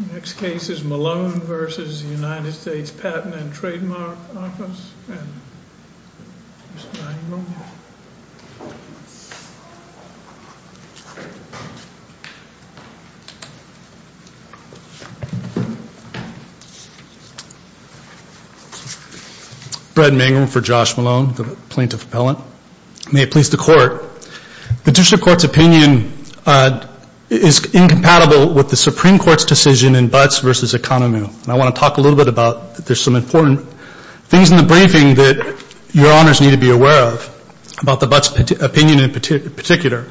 The next case is Malone v. United States Patent & Trademark Office and Mr. Mangum. Mr. Mangum, for Josh Malone, the Plaintiff Appellant. May it please the Court. The Judicial Court's opinion is incompatible with the Supreme Court's decision in Butts v. Economy. I want to talk a little bit about, there's some important things in the briefing that your Honors need to be aware of about the Butts' opinion in particular.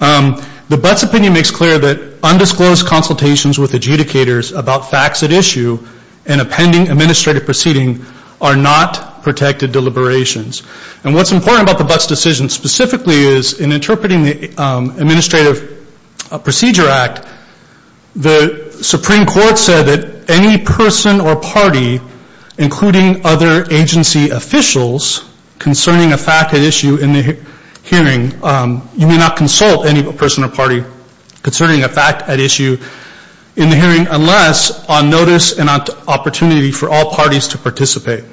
The Butts' opinion makes clear that undisclosed consultations with adjudicators about facts at issue and a pending administrative proceeding are not protected deliberations. And what's important about the Butts' decision specifically is in interpreting the Administrative Procedure Act, the Supreme Court said that any person or party, including other agency officials, concerning a fact at issue in the hearing, you may not consult any person or party concerning a fact at issue in the hearing unless on notice and on opportunity for all parties to participate.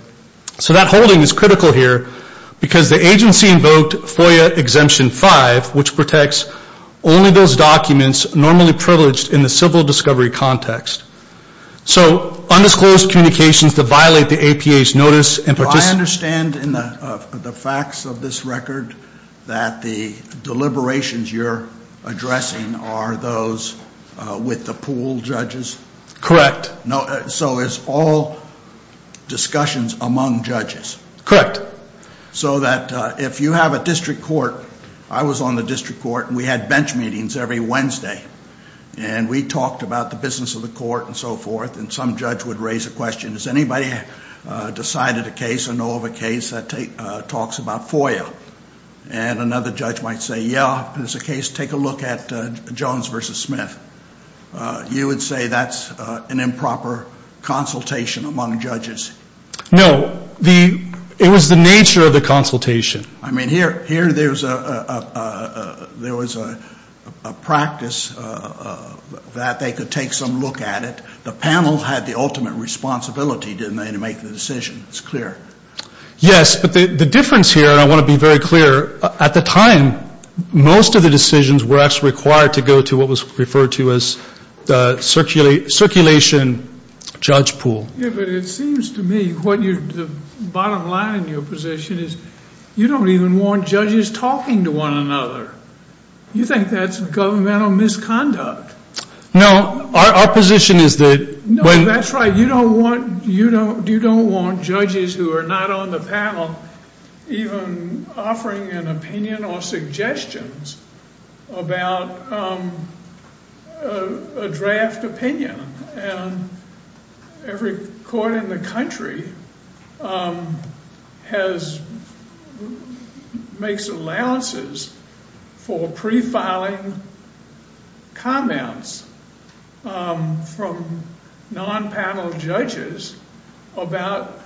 So that holding is critical here because the agency invoked FOIA Exemption 5, which protects only those documents normally privileged in the civil discovery context. So undisclosed communications that violate the APA's notice and participant... Do I understand in the facts of this record that the deliberations you're addressing are those with the pool judges? Correct. So it's all discussions among judges? Correct. So that if you have a district court... I was on the district court and we had bench meetings every Wednesday and we talked about the business of the court and so forth and some judge would raise a question, has anybody decided a case or know of a case that talks about FOIA? And another judge might say, yeah, there's a case, take a look at Jones v. Smith. You would say that's an improper consultation among judges? It was the nature of the consultation. I mean, here there was a practice that they could take some look at it. The panel had the ultimate responsibility, didn't they, to make the decision. It's clear. Yes, but the difference here, and I want to be very clear, at the time most of the decisions were actually required to go to what was referred to as the circulation judge pool. Yeah, but it seems to me the bottom line in your position is you don't even want judges talking to one another. You think that's governmental misconduct. No, our position is that... or suggestions about a draft opinion. And every court in the country makes allowances for prefiling comments from non-panel judges about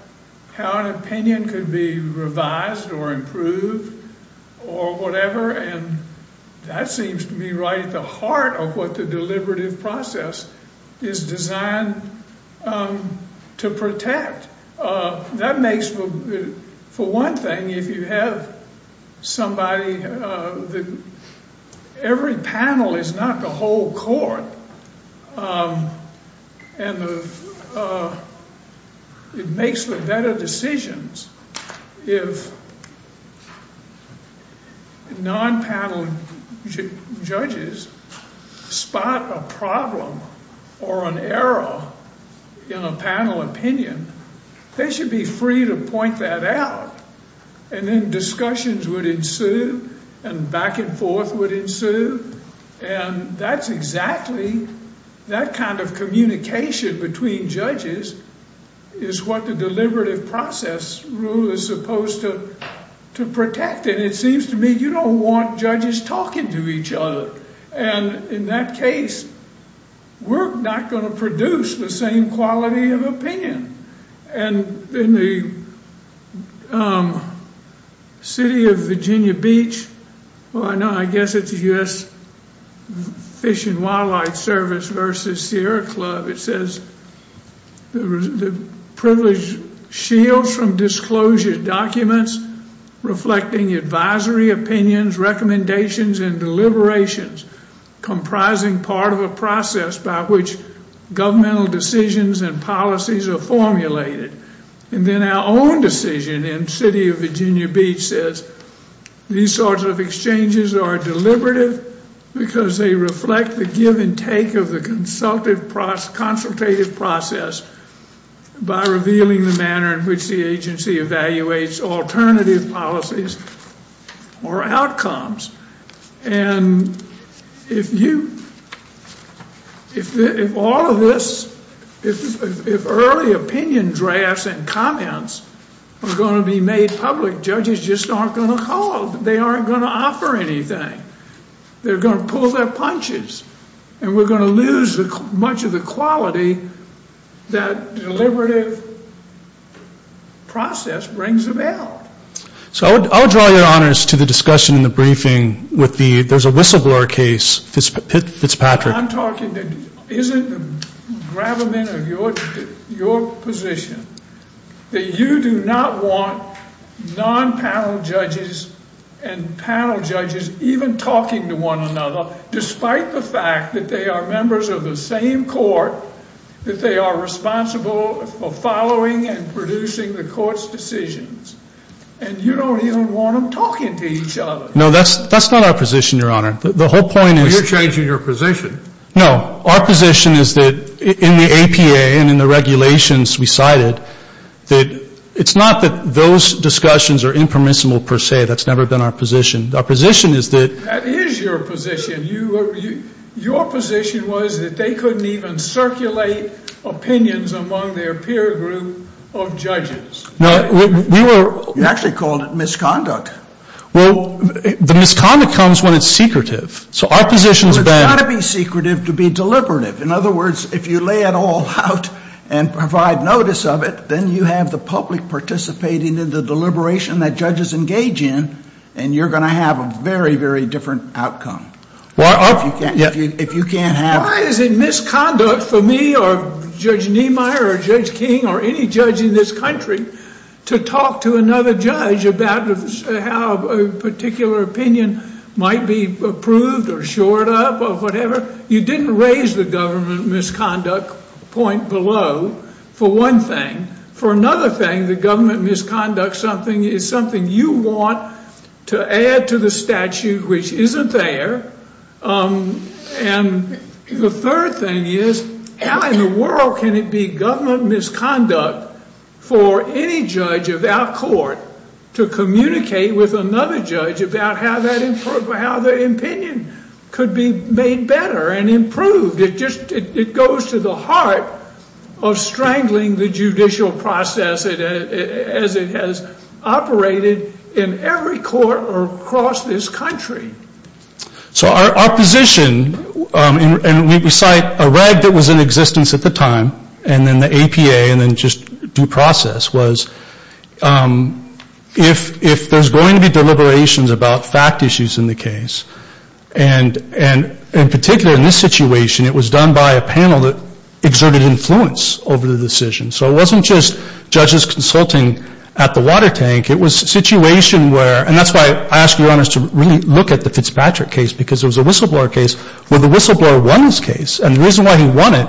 how an opinion could be revised or improved or whatever, and that seems to me right at the heart of what the deliberative process is designed to protect. That makes for one thing, if you have somebody that... Every panel is not the whole court, and it makes for better decisions. If non-panel judges spot a problem or an error in a panel opinion, they should be free to point that out, and then discussions would ensue and back and forth would ensue, and that's exactly... that kind of communication between judges is what the deliberative process rule is supposed to protect, and it seems to me you don't want judges talking to each other. And in that case, we're not going to produce the same quality of opinion. And in the city of Virginia Beach, I guess it's the U.S. Fish and Wildlife Service versus Sierra Club, it says the privilege shields from disclosure documents reflecting advisory opinions, recommendations, and deliberations comprising part of a process by which governmental decisions and policies are formulated. And then our own decision in the city of Virginia Beach says these sorts of exchanges are deliberative because they reflect the give and take of the consultative process by revealing the manner in which the agency evaluates alternative policies or outcomes. And if you... if all of this... if early opinion drafts and comments are going to be made public, judges just aren't going to call. They aren't going to offer anything. They're going to pull their punches, and we're going to lose much of the quality that deliberative process brings about. So I'll draw your honors to the discussion in the briefing with the... there's a whistleblower case, Fitzpatrick. I'm talking that isn't the gravamen of your position that you do not want non-panel judges and panel judges even talking to one another despite the fact that they are members of the same court, that they are responsible for following and producing the court's decisions. And you don't even want them talking to each other. No, that's not our position, your honor. The whole point is... Well, you're changing your position. No. Our position is that in the APA and in the regulations we cited that it's not that those discussions are impermissible per se. That's never been our position. Our position is that... That is your position. Your position was that they couldn't even circulate opinions among their peer group of judges. Well, we were... You actually called it misconduct. Well, the misconduct comes when it's secretive. So our position is that... Well, it's got to be secretive to be deliberative. In other words, if you lay it all out and provide notice of it, then you have the public participating in the deliberation that judges engage in, and you're going to have a very, very different outcome. Well, I... If you can't have... Why is it misconduct for me or Judge Niemeyer or Judge King or any judge in this country to talk to another judge about how a particular opinion might be approved or shored up or whatever? You didn't raise the government misconduct point below for one thing. For another thing, the government misconduct is something you want to add to the statute, which isn't there. And the third thing is, how in the world can it be government misconduct for any judge of our court to communicate with another judge about how their opinion could be made better and improved? It goes to the heart of strangling the judicial process as it has operated in every court across this country. So our position, and we cite a reg that was in existence at the time, and then the APA and then just due process, was if there's going to be deliberations about fact issues in the case, and particularly in this situation, it was done by a panel that exerted influence over the decision. So it wasn't just judges consulting at the water tank. It was a situation where, and that's why I ask you honors to really look at the Fitzpatrick case, because it was a whistleblower case where the whistleblower won this case. And the reason why he won it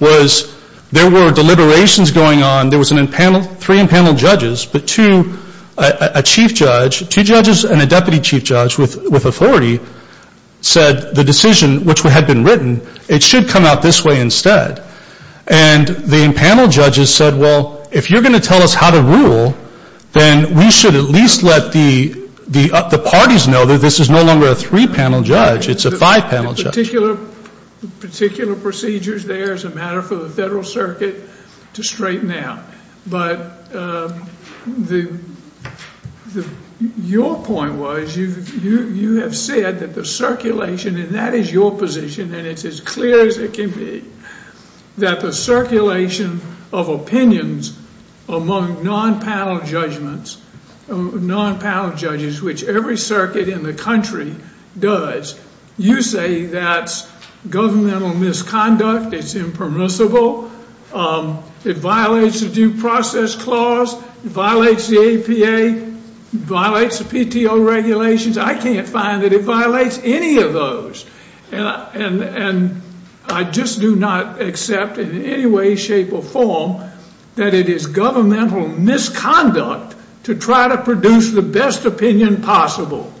was there were deliberations going on. There was three impaneled judges, but two, a chief judge, two judges and a deputy chief judge with authority, said the decision, which had been written, it should come out this way instead. And the impaneled judges said, well, if you're going to tell us how to rule, then we should at least let the parties know that this is no longer a three-panel judge. It's a five-panel judge. The particular procedures there is a matter for the Federal Circuit to straighten out. But your point was you have said that the circulation, and that is your position, and it's as clear as it can be, that the circulation of opinions among non-panel judges, which every circuit in the country does, you say that's governmental misconduct, it's impermissible, it violates the due process clause, it violates the APA, it violates the PTO regulations. I can't find that it violates any of those. And I just do not accept in any way, shape, or form that it is governmental misconduct to try to produce the best opinion possible.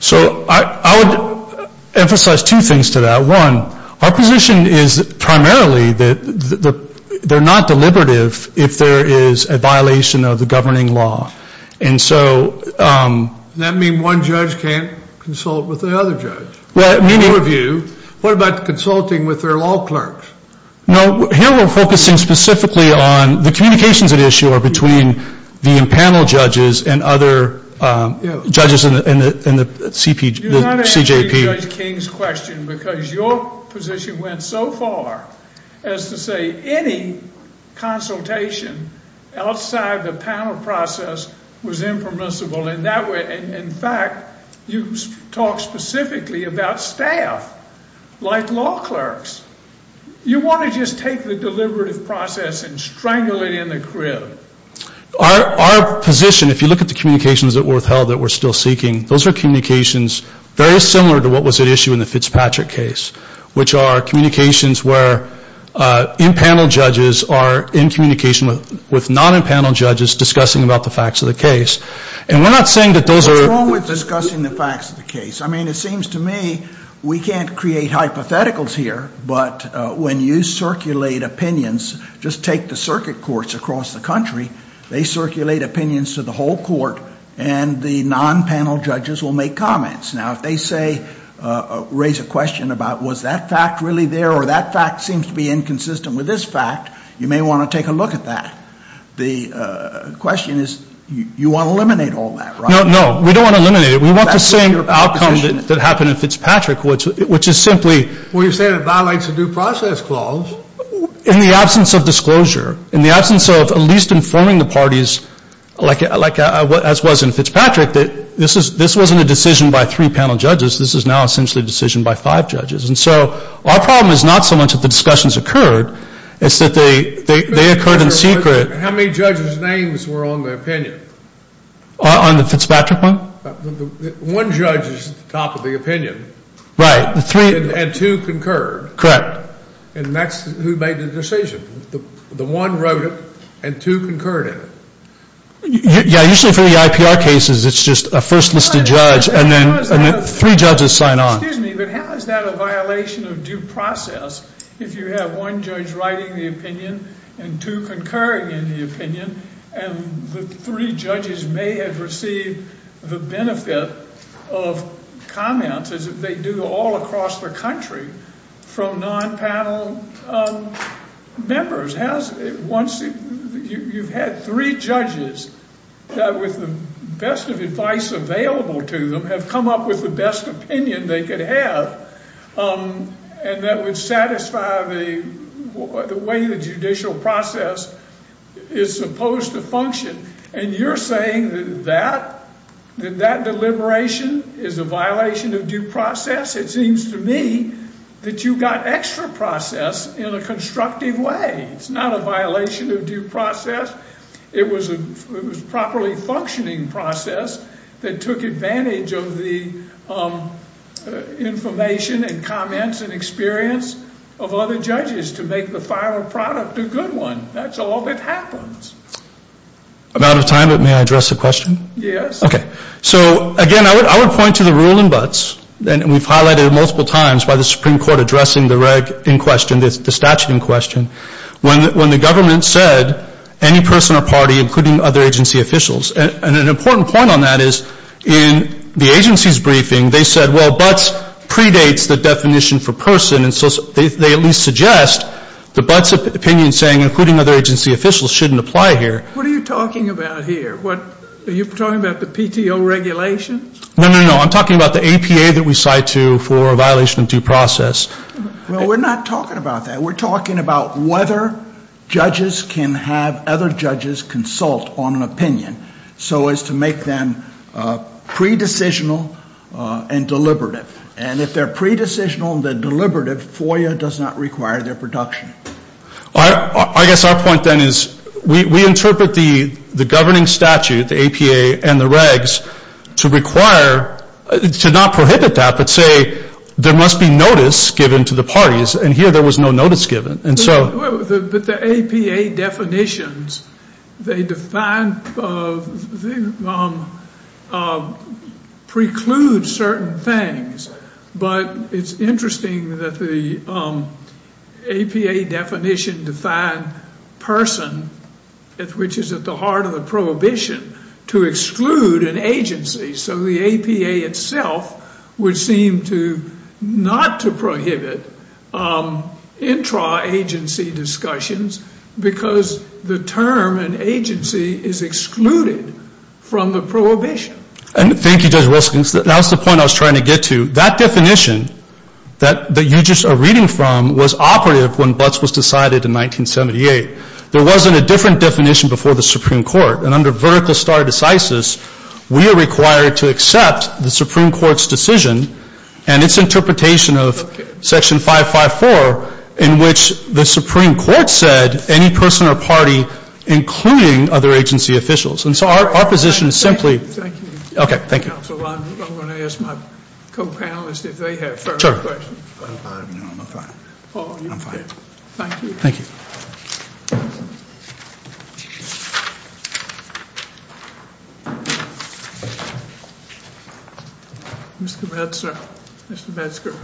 So I would emphasize two things to that. One, our position is primarily that they're not deliberative if there is a violation of the governing law. Does that mean one judge can't consult with another judge? In your view, what about consulting with their law clerks? No, here we're focusing specifically on the communications at issue are between the panel judges and other judges in the CJP. Do not answer Judge King's question because your position went so far as to say that any consultation outside the panel process was impermissible in that way. In fact, you talk specifically about staff, like law clerks. You want to just take the deliberative process and strangle it in the crib. Our position, if you look at the communications that were withheld that we're still seeking, those are communications very similar to what was at issue in the Fitzpatrick case, which are communications where in-panel judges are in communication with non-in-panel judges discussing about the facts of the case. And we're not saying that those are the... What's wrong with discussing the facts of the case? I mean, it seems to me we can't create hypotheticals here, but when you circulate opinions, just take the circuit courts across the country, they circulate opinions to the whole court, and the non-panel judges will make comments. Now, if they say, raise a question about was that fact really there or that fact seems to be inconsistent with this fact, you may want to take a look at that. The question is you want to eliminate all that, right? No, no, we don't want to eliminate it. We want the same outcome that happened in Fitzpatrick, which is simply... Well, you're saying it violates the due process clause. In the absence of disclosure, in the absence of at least informing the parties, as was in Fitzpatrick, this wasn't a decision by three panel judges. This is now essentially a decision by five judges. And so our problem is not so much that the discussions occurred. It's that they occurred in secret. How many judges' names were on the opinion? On the Fitzpatrick one? One judge is at the top of the opinion. Right. And two concurred. Correct. And that's who made the decision. The one wrote it, and two concurred in it. Yeah, usually for the IPR cases, it's just a first listed judge, and then three judges sign on. Excuse me, but how is that a violation of due process if you have one judge writing the opinion and two concurring in the opinion, and the three judges may have received the benefit of comments as if they do all across the country from non-panel members? You've had three judges that, with the best of advice available to them, have come up with the best opinion they could have, and that would satisfy the way the judicial process is supposed to function. And you're saying that that deliberation is a violation of due process? It seems to me that you got extra process in a constructive way. It's not a violation of due process. It was a properly functioning process that took advantage of the information and comments and experience of other judges to make the final product a good one. That's all that happens. I'm out of time, but may I address a question? Yes. Okay. So, again, I would point to the rule in Butts, and we've highlighted it multiple times by the Supreme Court addressing the statute in question, when the government said any person or party, including other agency officials, and an important point on that is in the agency's briefing, they said, well, Butts predates the definition for person, and so they at least suggest that Butts' opinion saying, including other agency officials, shouldn't apply here. What are you talking about here? Are you talking about the PTO regulations? No, no, no. I'm talking about the APA that we cite for a violation of due process. Well, we're not talking about that. We're talking about whether judges can have other judges consult on an opinion so as to make them pre-decisional and deliberative. And if they're pre-decisional and deliberative, FOIA does not require their production. I guess our point, then, is we interpret the governing statute, the APA and the regs, to require, to not prohibit that, but say there must be notice given to the parties, and here there was no notice given. But the APA definitions, they define, preclude certain things, but it's interesting that the APA definition defined person, which is at the heart of the prohibition, to exclude an agency. So the APA itself would seem to not to prohibit intra-agency discussions because the term an agency is excluded from the prohibition. And thank you, Judge Wilson. That was the point I was trying to get to. That definition that you just are reading from was operative when Butts was decided in 1978. There wasn't a different definition before the Supreme Court. And under vertical star decisis, we are required to accept the Supreme Court's decision and its interpretation of Section 554 in which the Supreme Court said any person or party, including other agency officials. And so our position is simply. Thank you. Okay, thank you. Counsel, I'm going to ask my co-panelists if they have further questions. I'm fine. Paul, are you okay? I'm fine. Thank you. Thank you. Mr. Metzger. Mr. Metzger.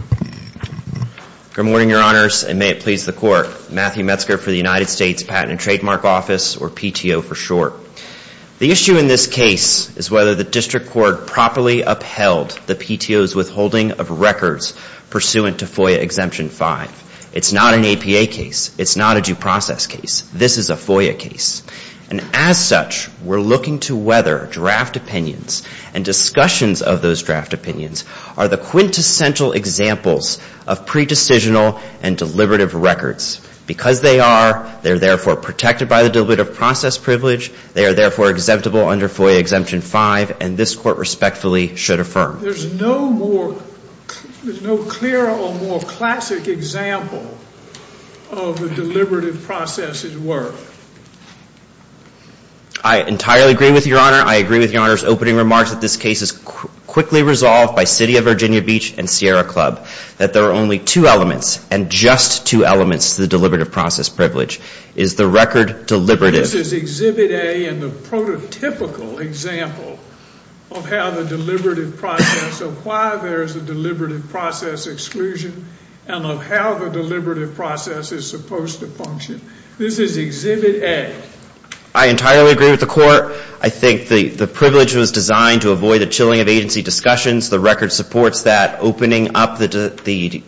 Good morning, Your Honors, and may it please the Court. Matthew Metzger for the United States Patent and Trademark Office, or PTO for short. The issue in this case is whether the District Court properly upheld the PTO's withholding of records pursuant to FOIA Exemption 5. It's not an APA case. It's not a due process case. This is a FOIA case. And as such, we're looking to whether draft opinions and discussions of those draft opinions are the quintessential examples of pre-decisional and deliberative records. Because they are, they're therefore protected by the deliberative process privilege. They are therefore exemptable under FOIA Exemption 5, and this Court respectfully should affirm. There's no more, there's no clearer or more classic example of the deliberative process's worth. I entirely agree with Your Honor. I agree with Your Honor's opening remarks that this case is quickly resolved by City of Virginia Beach and Sierra Club. That there are only two elements, and just two elements to the deliberative process privilege. It is the record deliberative. This is Exhibit A and the prototypical example of how the deliberative process, of why there is a deliberative process exclusion, and of how the deliberative process is supposed to function. This is Exhibit A. I entirely agree with the Court. I think the privilege was designed to avoid the chilling of agency discussions. The record supports that. Opening up the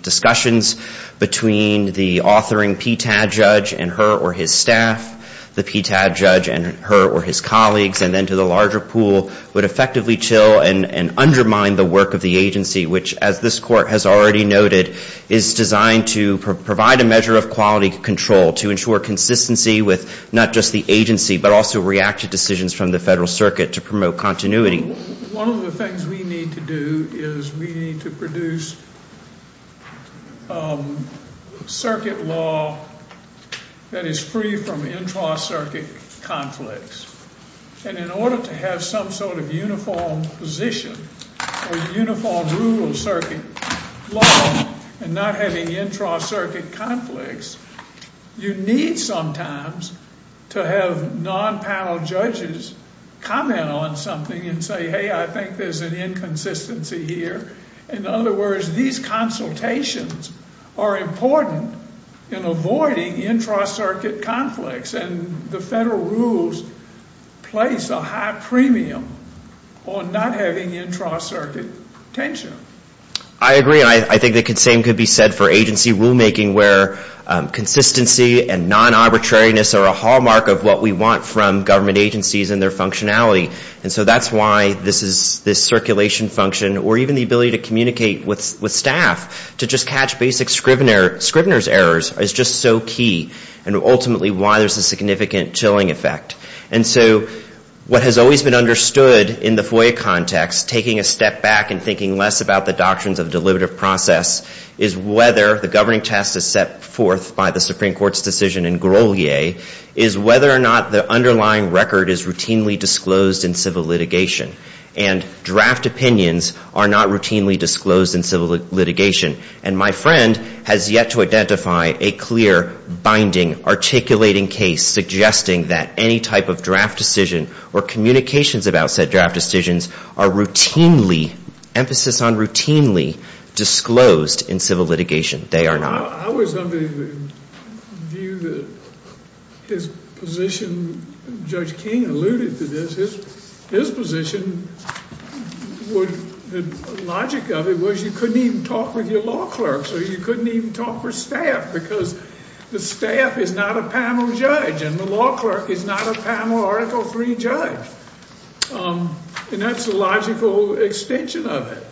discussions between the authoring PTAD judge and her or his staff, the PTAD judge and her or his colleagues, and then to the larger pool, would effectively chill and undermine the work of the agency, which, as this Court has already noted, is designed to provide a measure of quality control, to ensure consistency with not just the agency, but also reactive decisions from the Federal Circuit to promote continuity. One of the things we need to do is we need to produce circuit law that is free from intra-circuit conflicts. And in order to have some sort of uniform position or uniform rule of circuit law and not having intra-circuit conflicts, you need sometimes to have non-panel judges comment on something and say, hey, I think there's an inconsistency here. In other words, these consultations are important in avoiding intra-circuit conflicts, and the Federal rules place a high premium on not having intra-circuit tension. I agree, and I think the same could be said for agency rulemaking, where consistency and non-arbitrariness are a hallmark of what we want from government agencies and their functionality. And so that's why this circulation function, or even the ability to communicate with staff, to just catch basic scrivener's errors, is just so key, and ultimately why there's a significant chilling effect. And so what has always been understood in the FOIA context, taking a step back and thinking less about the doctrines of deliberative process, is whether the governing test is set forth by the Supreme Court's decision in Grolier, is whether or not the underlying record is routinely disclosed in civil litigation. And draft opinions are not routinely disclosed in civil litigation. And my friend has yet to identify a clear, binding, articulating case suggesting that any type of draft decision or communications about said draft decisions are routinely, emphasis on routinely, disclosed in civil litigation. They are not. I was of the view that his position, Judge King alluded to this, his position, the logic of it was you couldn't even talk with your law clerks, or you couldn't even talk with staff, because the staff is not a panel judge, and the law clerk is not a panel Article III judge. And that's the logical extension of it.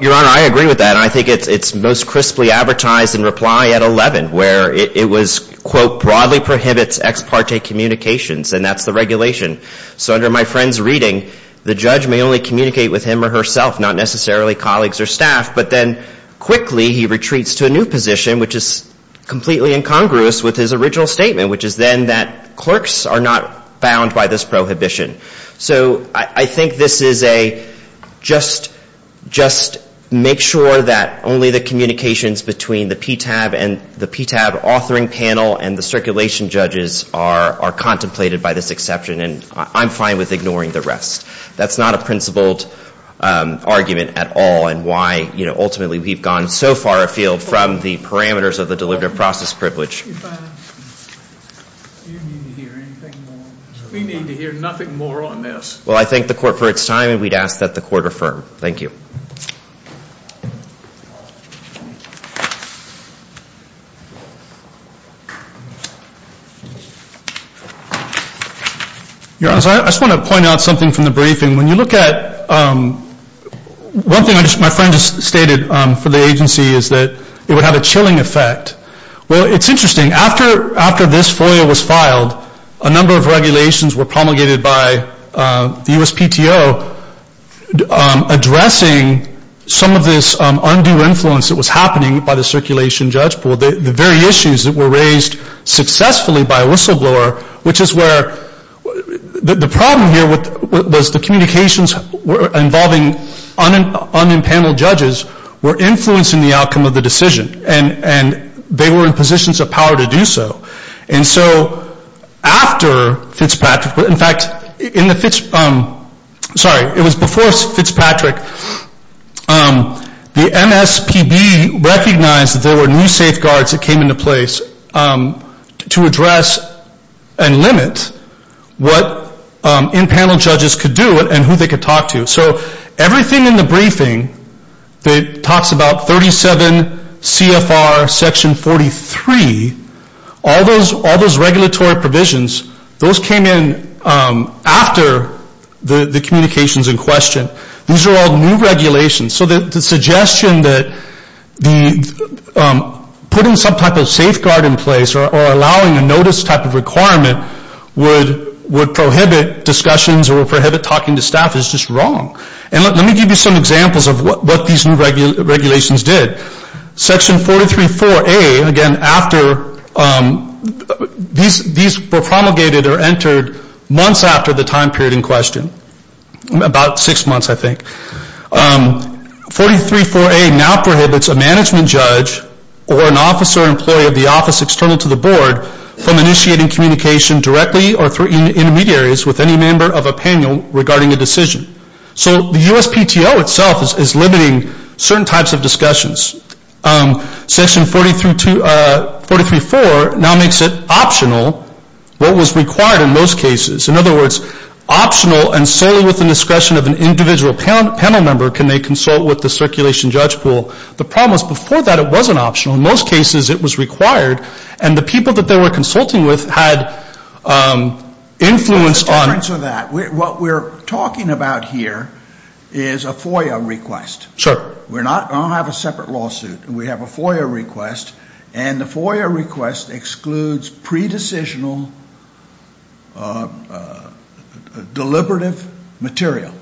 Your Honor, I agree with that, and I think it's most crisply advertised in reply at 11, where it was, quote, broadly prohibits ex parte communications, and that's the regulation. So under my friend's reading, the judge may only communicate with him or herself, not necessarily colleagues or staff, but then quickly he retreats to a new position, which is completely incongruous with his original statement, which is then that clerks are not bound by this prohibition. So I think this is a just make sure that only the communications between the PTAB and the PTAB authoring panel and the circulation judges are contemplated by this exception, and I'm fine with ignoring the rest. That's not a principled argument at all, and why, you know, ultimately we've gone so far afield from the parameters of the deliberative process privilege. You need to hear anything more. We need to hear nothing more on this. Well, I thank the court for its time, and we'd ask that the court affirm. Thank you. Your Honor, I just want to point out something from the briefing. When you look at one thing my friend just stated for the agency is that it would have a chilling effect. Well, it's interesting. After this FOIA was filed, a number of regulations were promulgated by the USPTO addressing some of this undue influence that was happening by the circulation judge pool, the very issues that were raised successfully by a whistleblower, which is where the problem here was the communications involving unimpaneled judges were influencing the outcome of the decision, and they were in positions of power to do so. And so after Fitzpatrick, in fact, in the Fitz, sorry, it was before Fitzpatrick, the MSPB recognized that there were new safeguards that came into place to address and limit what impaneled judges could do and who they could talk to. So everything in the briefing that talks about 37 CFR section 43, all those regulatory provisions, those came in after the communications in question. These are all new regulations. So the suggestion that putting some type of safeguard in place or allowing a notice type of requirement would prohibit discussions or prohibit talking to staff is just wrong. And let me give you some examples of what these new regulations did. Section 43.4a, again, after these were promulgated or entered months after the time period in question, about six months I think, 43.4a now prohibits a management judge or an officer or employee of the office external to the board from initiating communication directly or through intermediaries with any member of a panel regarding a decision. So the USPTO itself is limiting certain types of discussions. Section 43.4 now makes it optional what was required in most cases. In other words, optional and solely with the discretion of an individual panel member can they consult with the circulation judge pool. The problem was before that it wasn't optional. In most cases it was required. And the people that they were consulting with had influence on it. What we're talking about here is a FOIA request. We don't have a separate lawsuit. We have a FOIA request. And the FOIA request excludes pre-decisional deliberative material.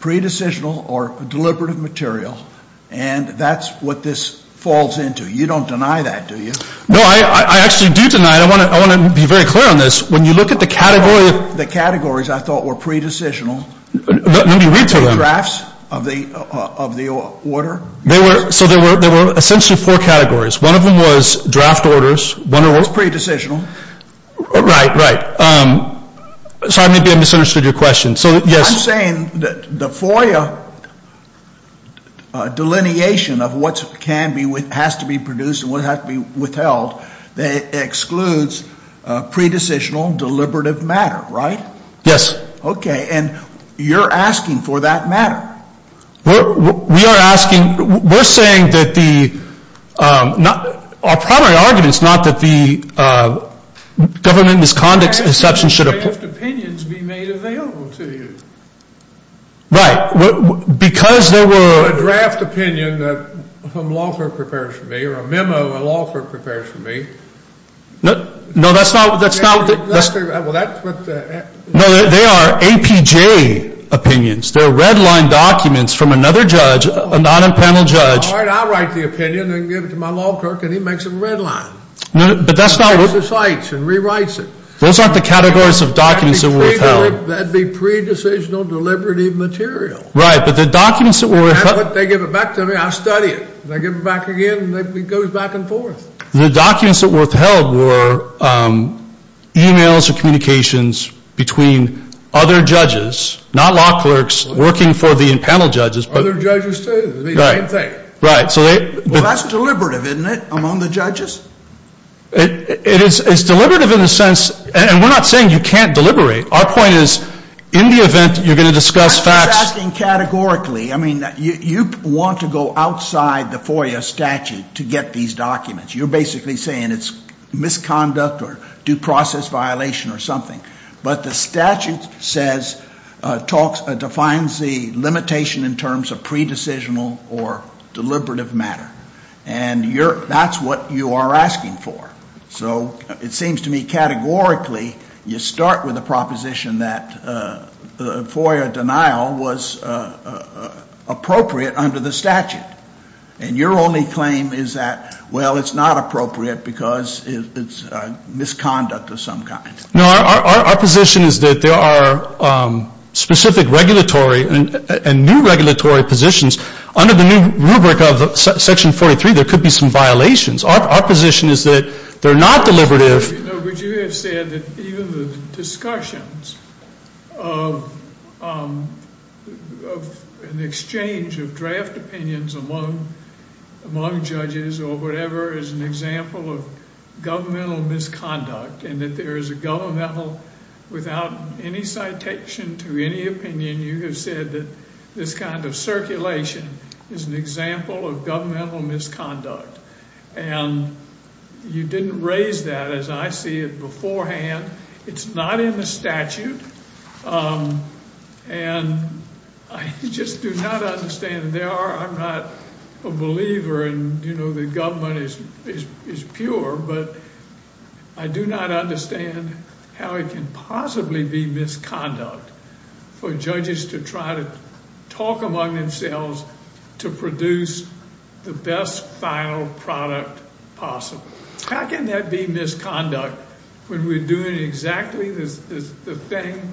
Pre-decisional or deliberative material. And that's what this falls into. You don't deny that, do you? No, I actually do deny it. I want to be very clear on this. When you look at the category. The categories I thought were pre-decisional. Let me read to them. The drafts of the order. So there were essentially four categories. One of them was draft orders. It's pre-decisional. Right, right. Sorry, maybe I misunderstood your question. I'm saying that the FOIA delineation of what has to be produced and what has to be withheld. It excludes pre-decisional deliberative matter, right? Yes. Okay. And you're asking for that matter. We are asking. We're saying that the. Our primary argument is not that the government misconduct exception should. Draft opinions be made available to you. Right. Because there were. A draft opinion that some law firm prepares for me. Or a memo a law firm prepares for me. No, that's not. Well, that's what. No, they are APJ opinions. They're red line documents from another judge, a non-impending judge. All right, I'll write the opinion and give it to my law clerk and he makes it red line. But that's not. And rewrites it. Those aren't the categories of documents that were withheld. That'd be pre-decisional deliberative material. Right, but the documents that were. They give it back to me, I study it. And I give it back again and it goes back and forth. The documents that were withheld were. E-mails or communications between other judges. Not law clerks working for the panel judges. Other judges too? Right. Well, that's deliberative, isn't it? Among the judges? It is. It's deliberative in the sense. And we're not saying you can't deliberate. Our point is. In the event you're going to discuss facts. I'm just asking categorically. I mean, you want to go outside the FOIA statute to get these documents. You're basically saying it's misconduct or due process violation or something. But the statute says. Defines the limitation in terms of pre-decisional or deliberative matter. And that's what you are asking for. So it seems to me categorically. You start with a proposition that the FOIA denial was appropriate under the statute. And your only claim is that, well, it's not appropriate because it's misconduct of some kind. No, our position is that there are specific regulatory and new regulatory positions. Under the new rubric of section 43, there could be some violations. Our position is that they're not deliberative. But you have said that even the discussions of an exchange of draft opinions among judges or whatever. Is an example of governmental misconduct. And that there is a governmental. Without any citation to any opinion. You have said that this kind of circulation is an example of governmental misconduct. And you didn't raise that as I see it beforehand. It's not in the statute. And I just do not understand. I'm not a believer in, you know, the government is pure. But I do not understand how it can possibly be misconduct for judges to try to talk among themselves to produce the best final product possible. How can that be misconduct when we're doing exactly the thing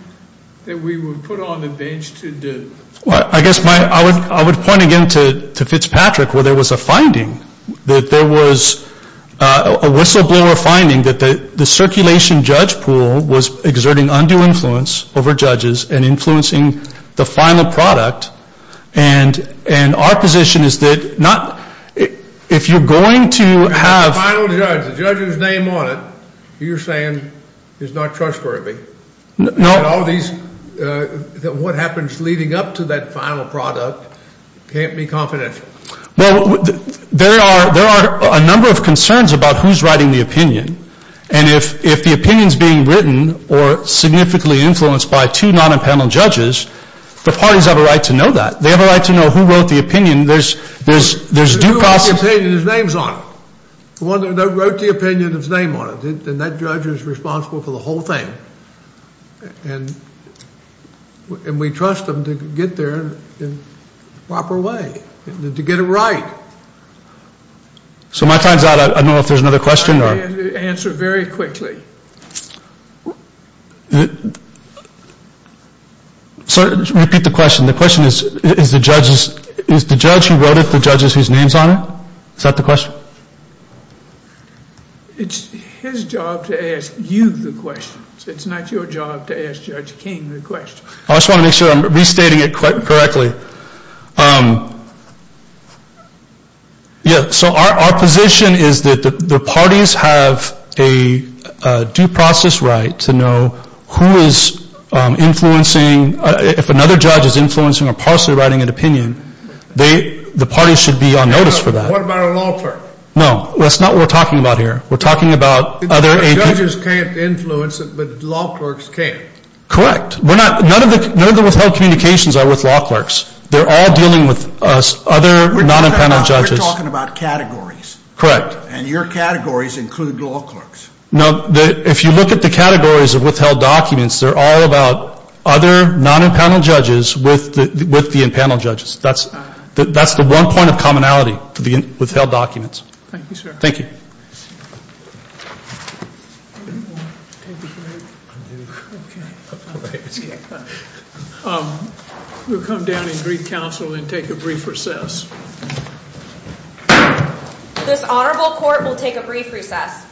that we were put on the bench to do? I guess I would point again to Fitzpatrick where there was a finding. There was a whistleblower finding that the circulation judge pool was exerting undue influence over judges. And influencing the final product. And our position is that if you're going to have. The final judge. The judge's name on it. You're saying is not trustworthy. No. All of these. What happens leading up to that final product can't be confidential. Well, there are there are a number of concerns about who's writing the opinion. And if if the opinion is being written or significantly influenced by two non-appellate judges. The parties have a right to know that they have a right to know who wrote the opinion. There's there's there's due process. His name's on it. One wrote the opinion of his name on it. And that judge is responsible for the whole thing. And we trust them to get there in a proper way. To get it right. So my time's out. I don't know if there's another question. Answer very quickly. So repeat the question. The question is, is the judge who wrote it the judge whose name's on it? Is that the question? It's his job to ask you the question. It's not your job to ask Judge King the question. I just want to make sure I'm restating it correctly. Yeah, so our position is that the parties have a due process right to know who is influencing. If another judge is influencing or partially writing an opinion, they the parties should be on notice for that. What about a law clerk? No, that's not what we're talking about here. We're talking about other agencies. Judges can't influence it, but law clerks can. Correct. None of the withheld communications are with law clerks. They're all dealing with other non-impanel judges. We're talking about categories. Correct. And your categories include law clerks. No, if you look at the categories of withheld documents, they're all about other non-impanel judges with the impanel judges. That's the one point of commonality with the withheld documents. Thank you, sir. Thank you. We'll come down and greet counsel and take a brief recess. This honorable court will take a brief recess.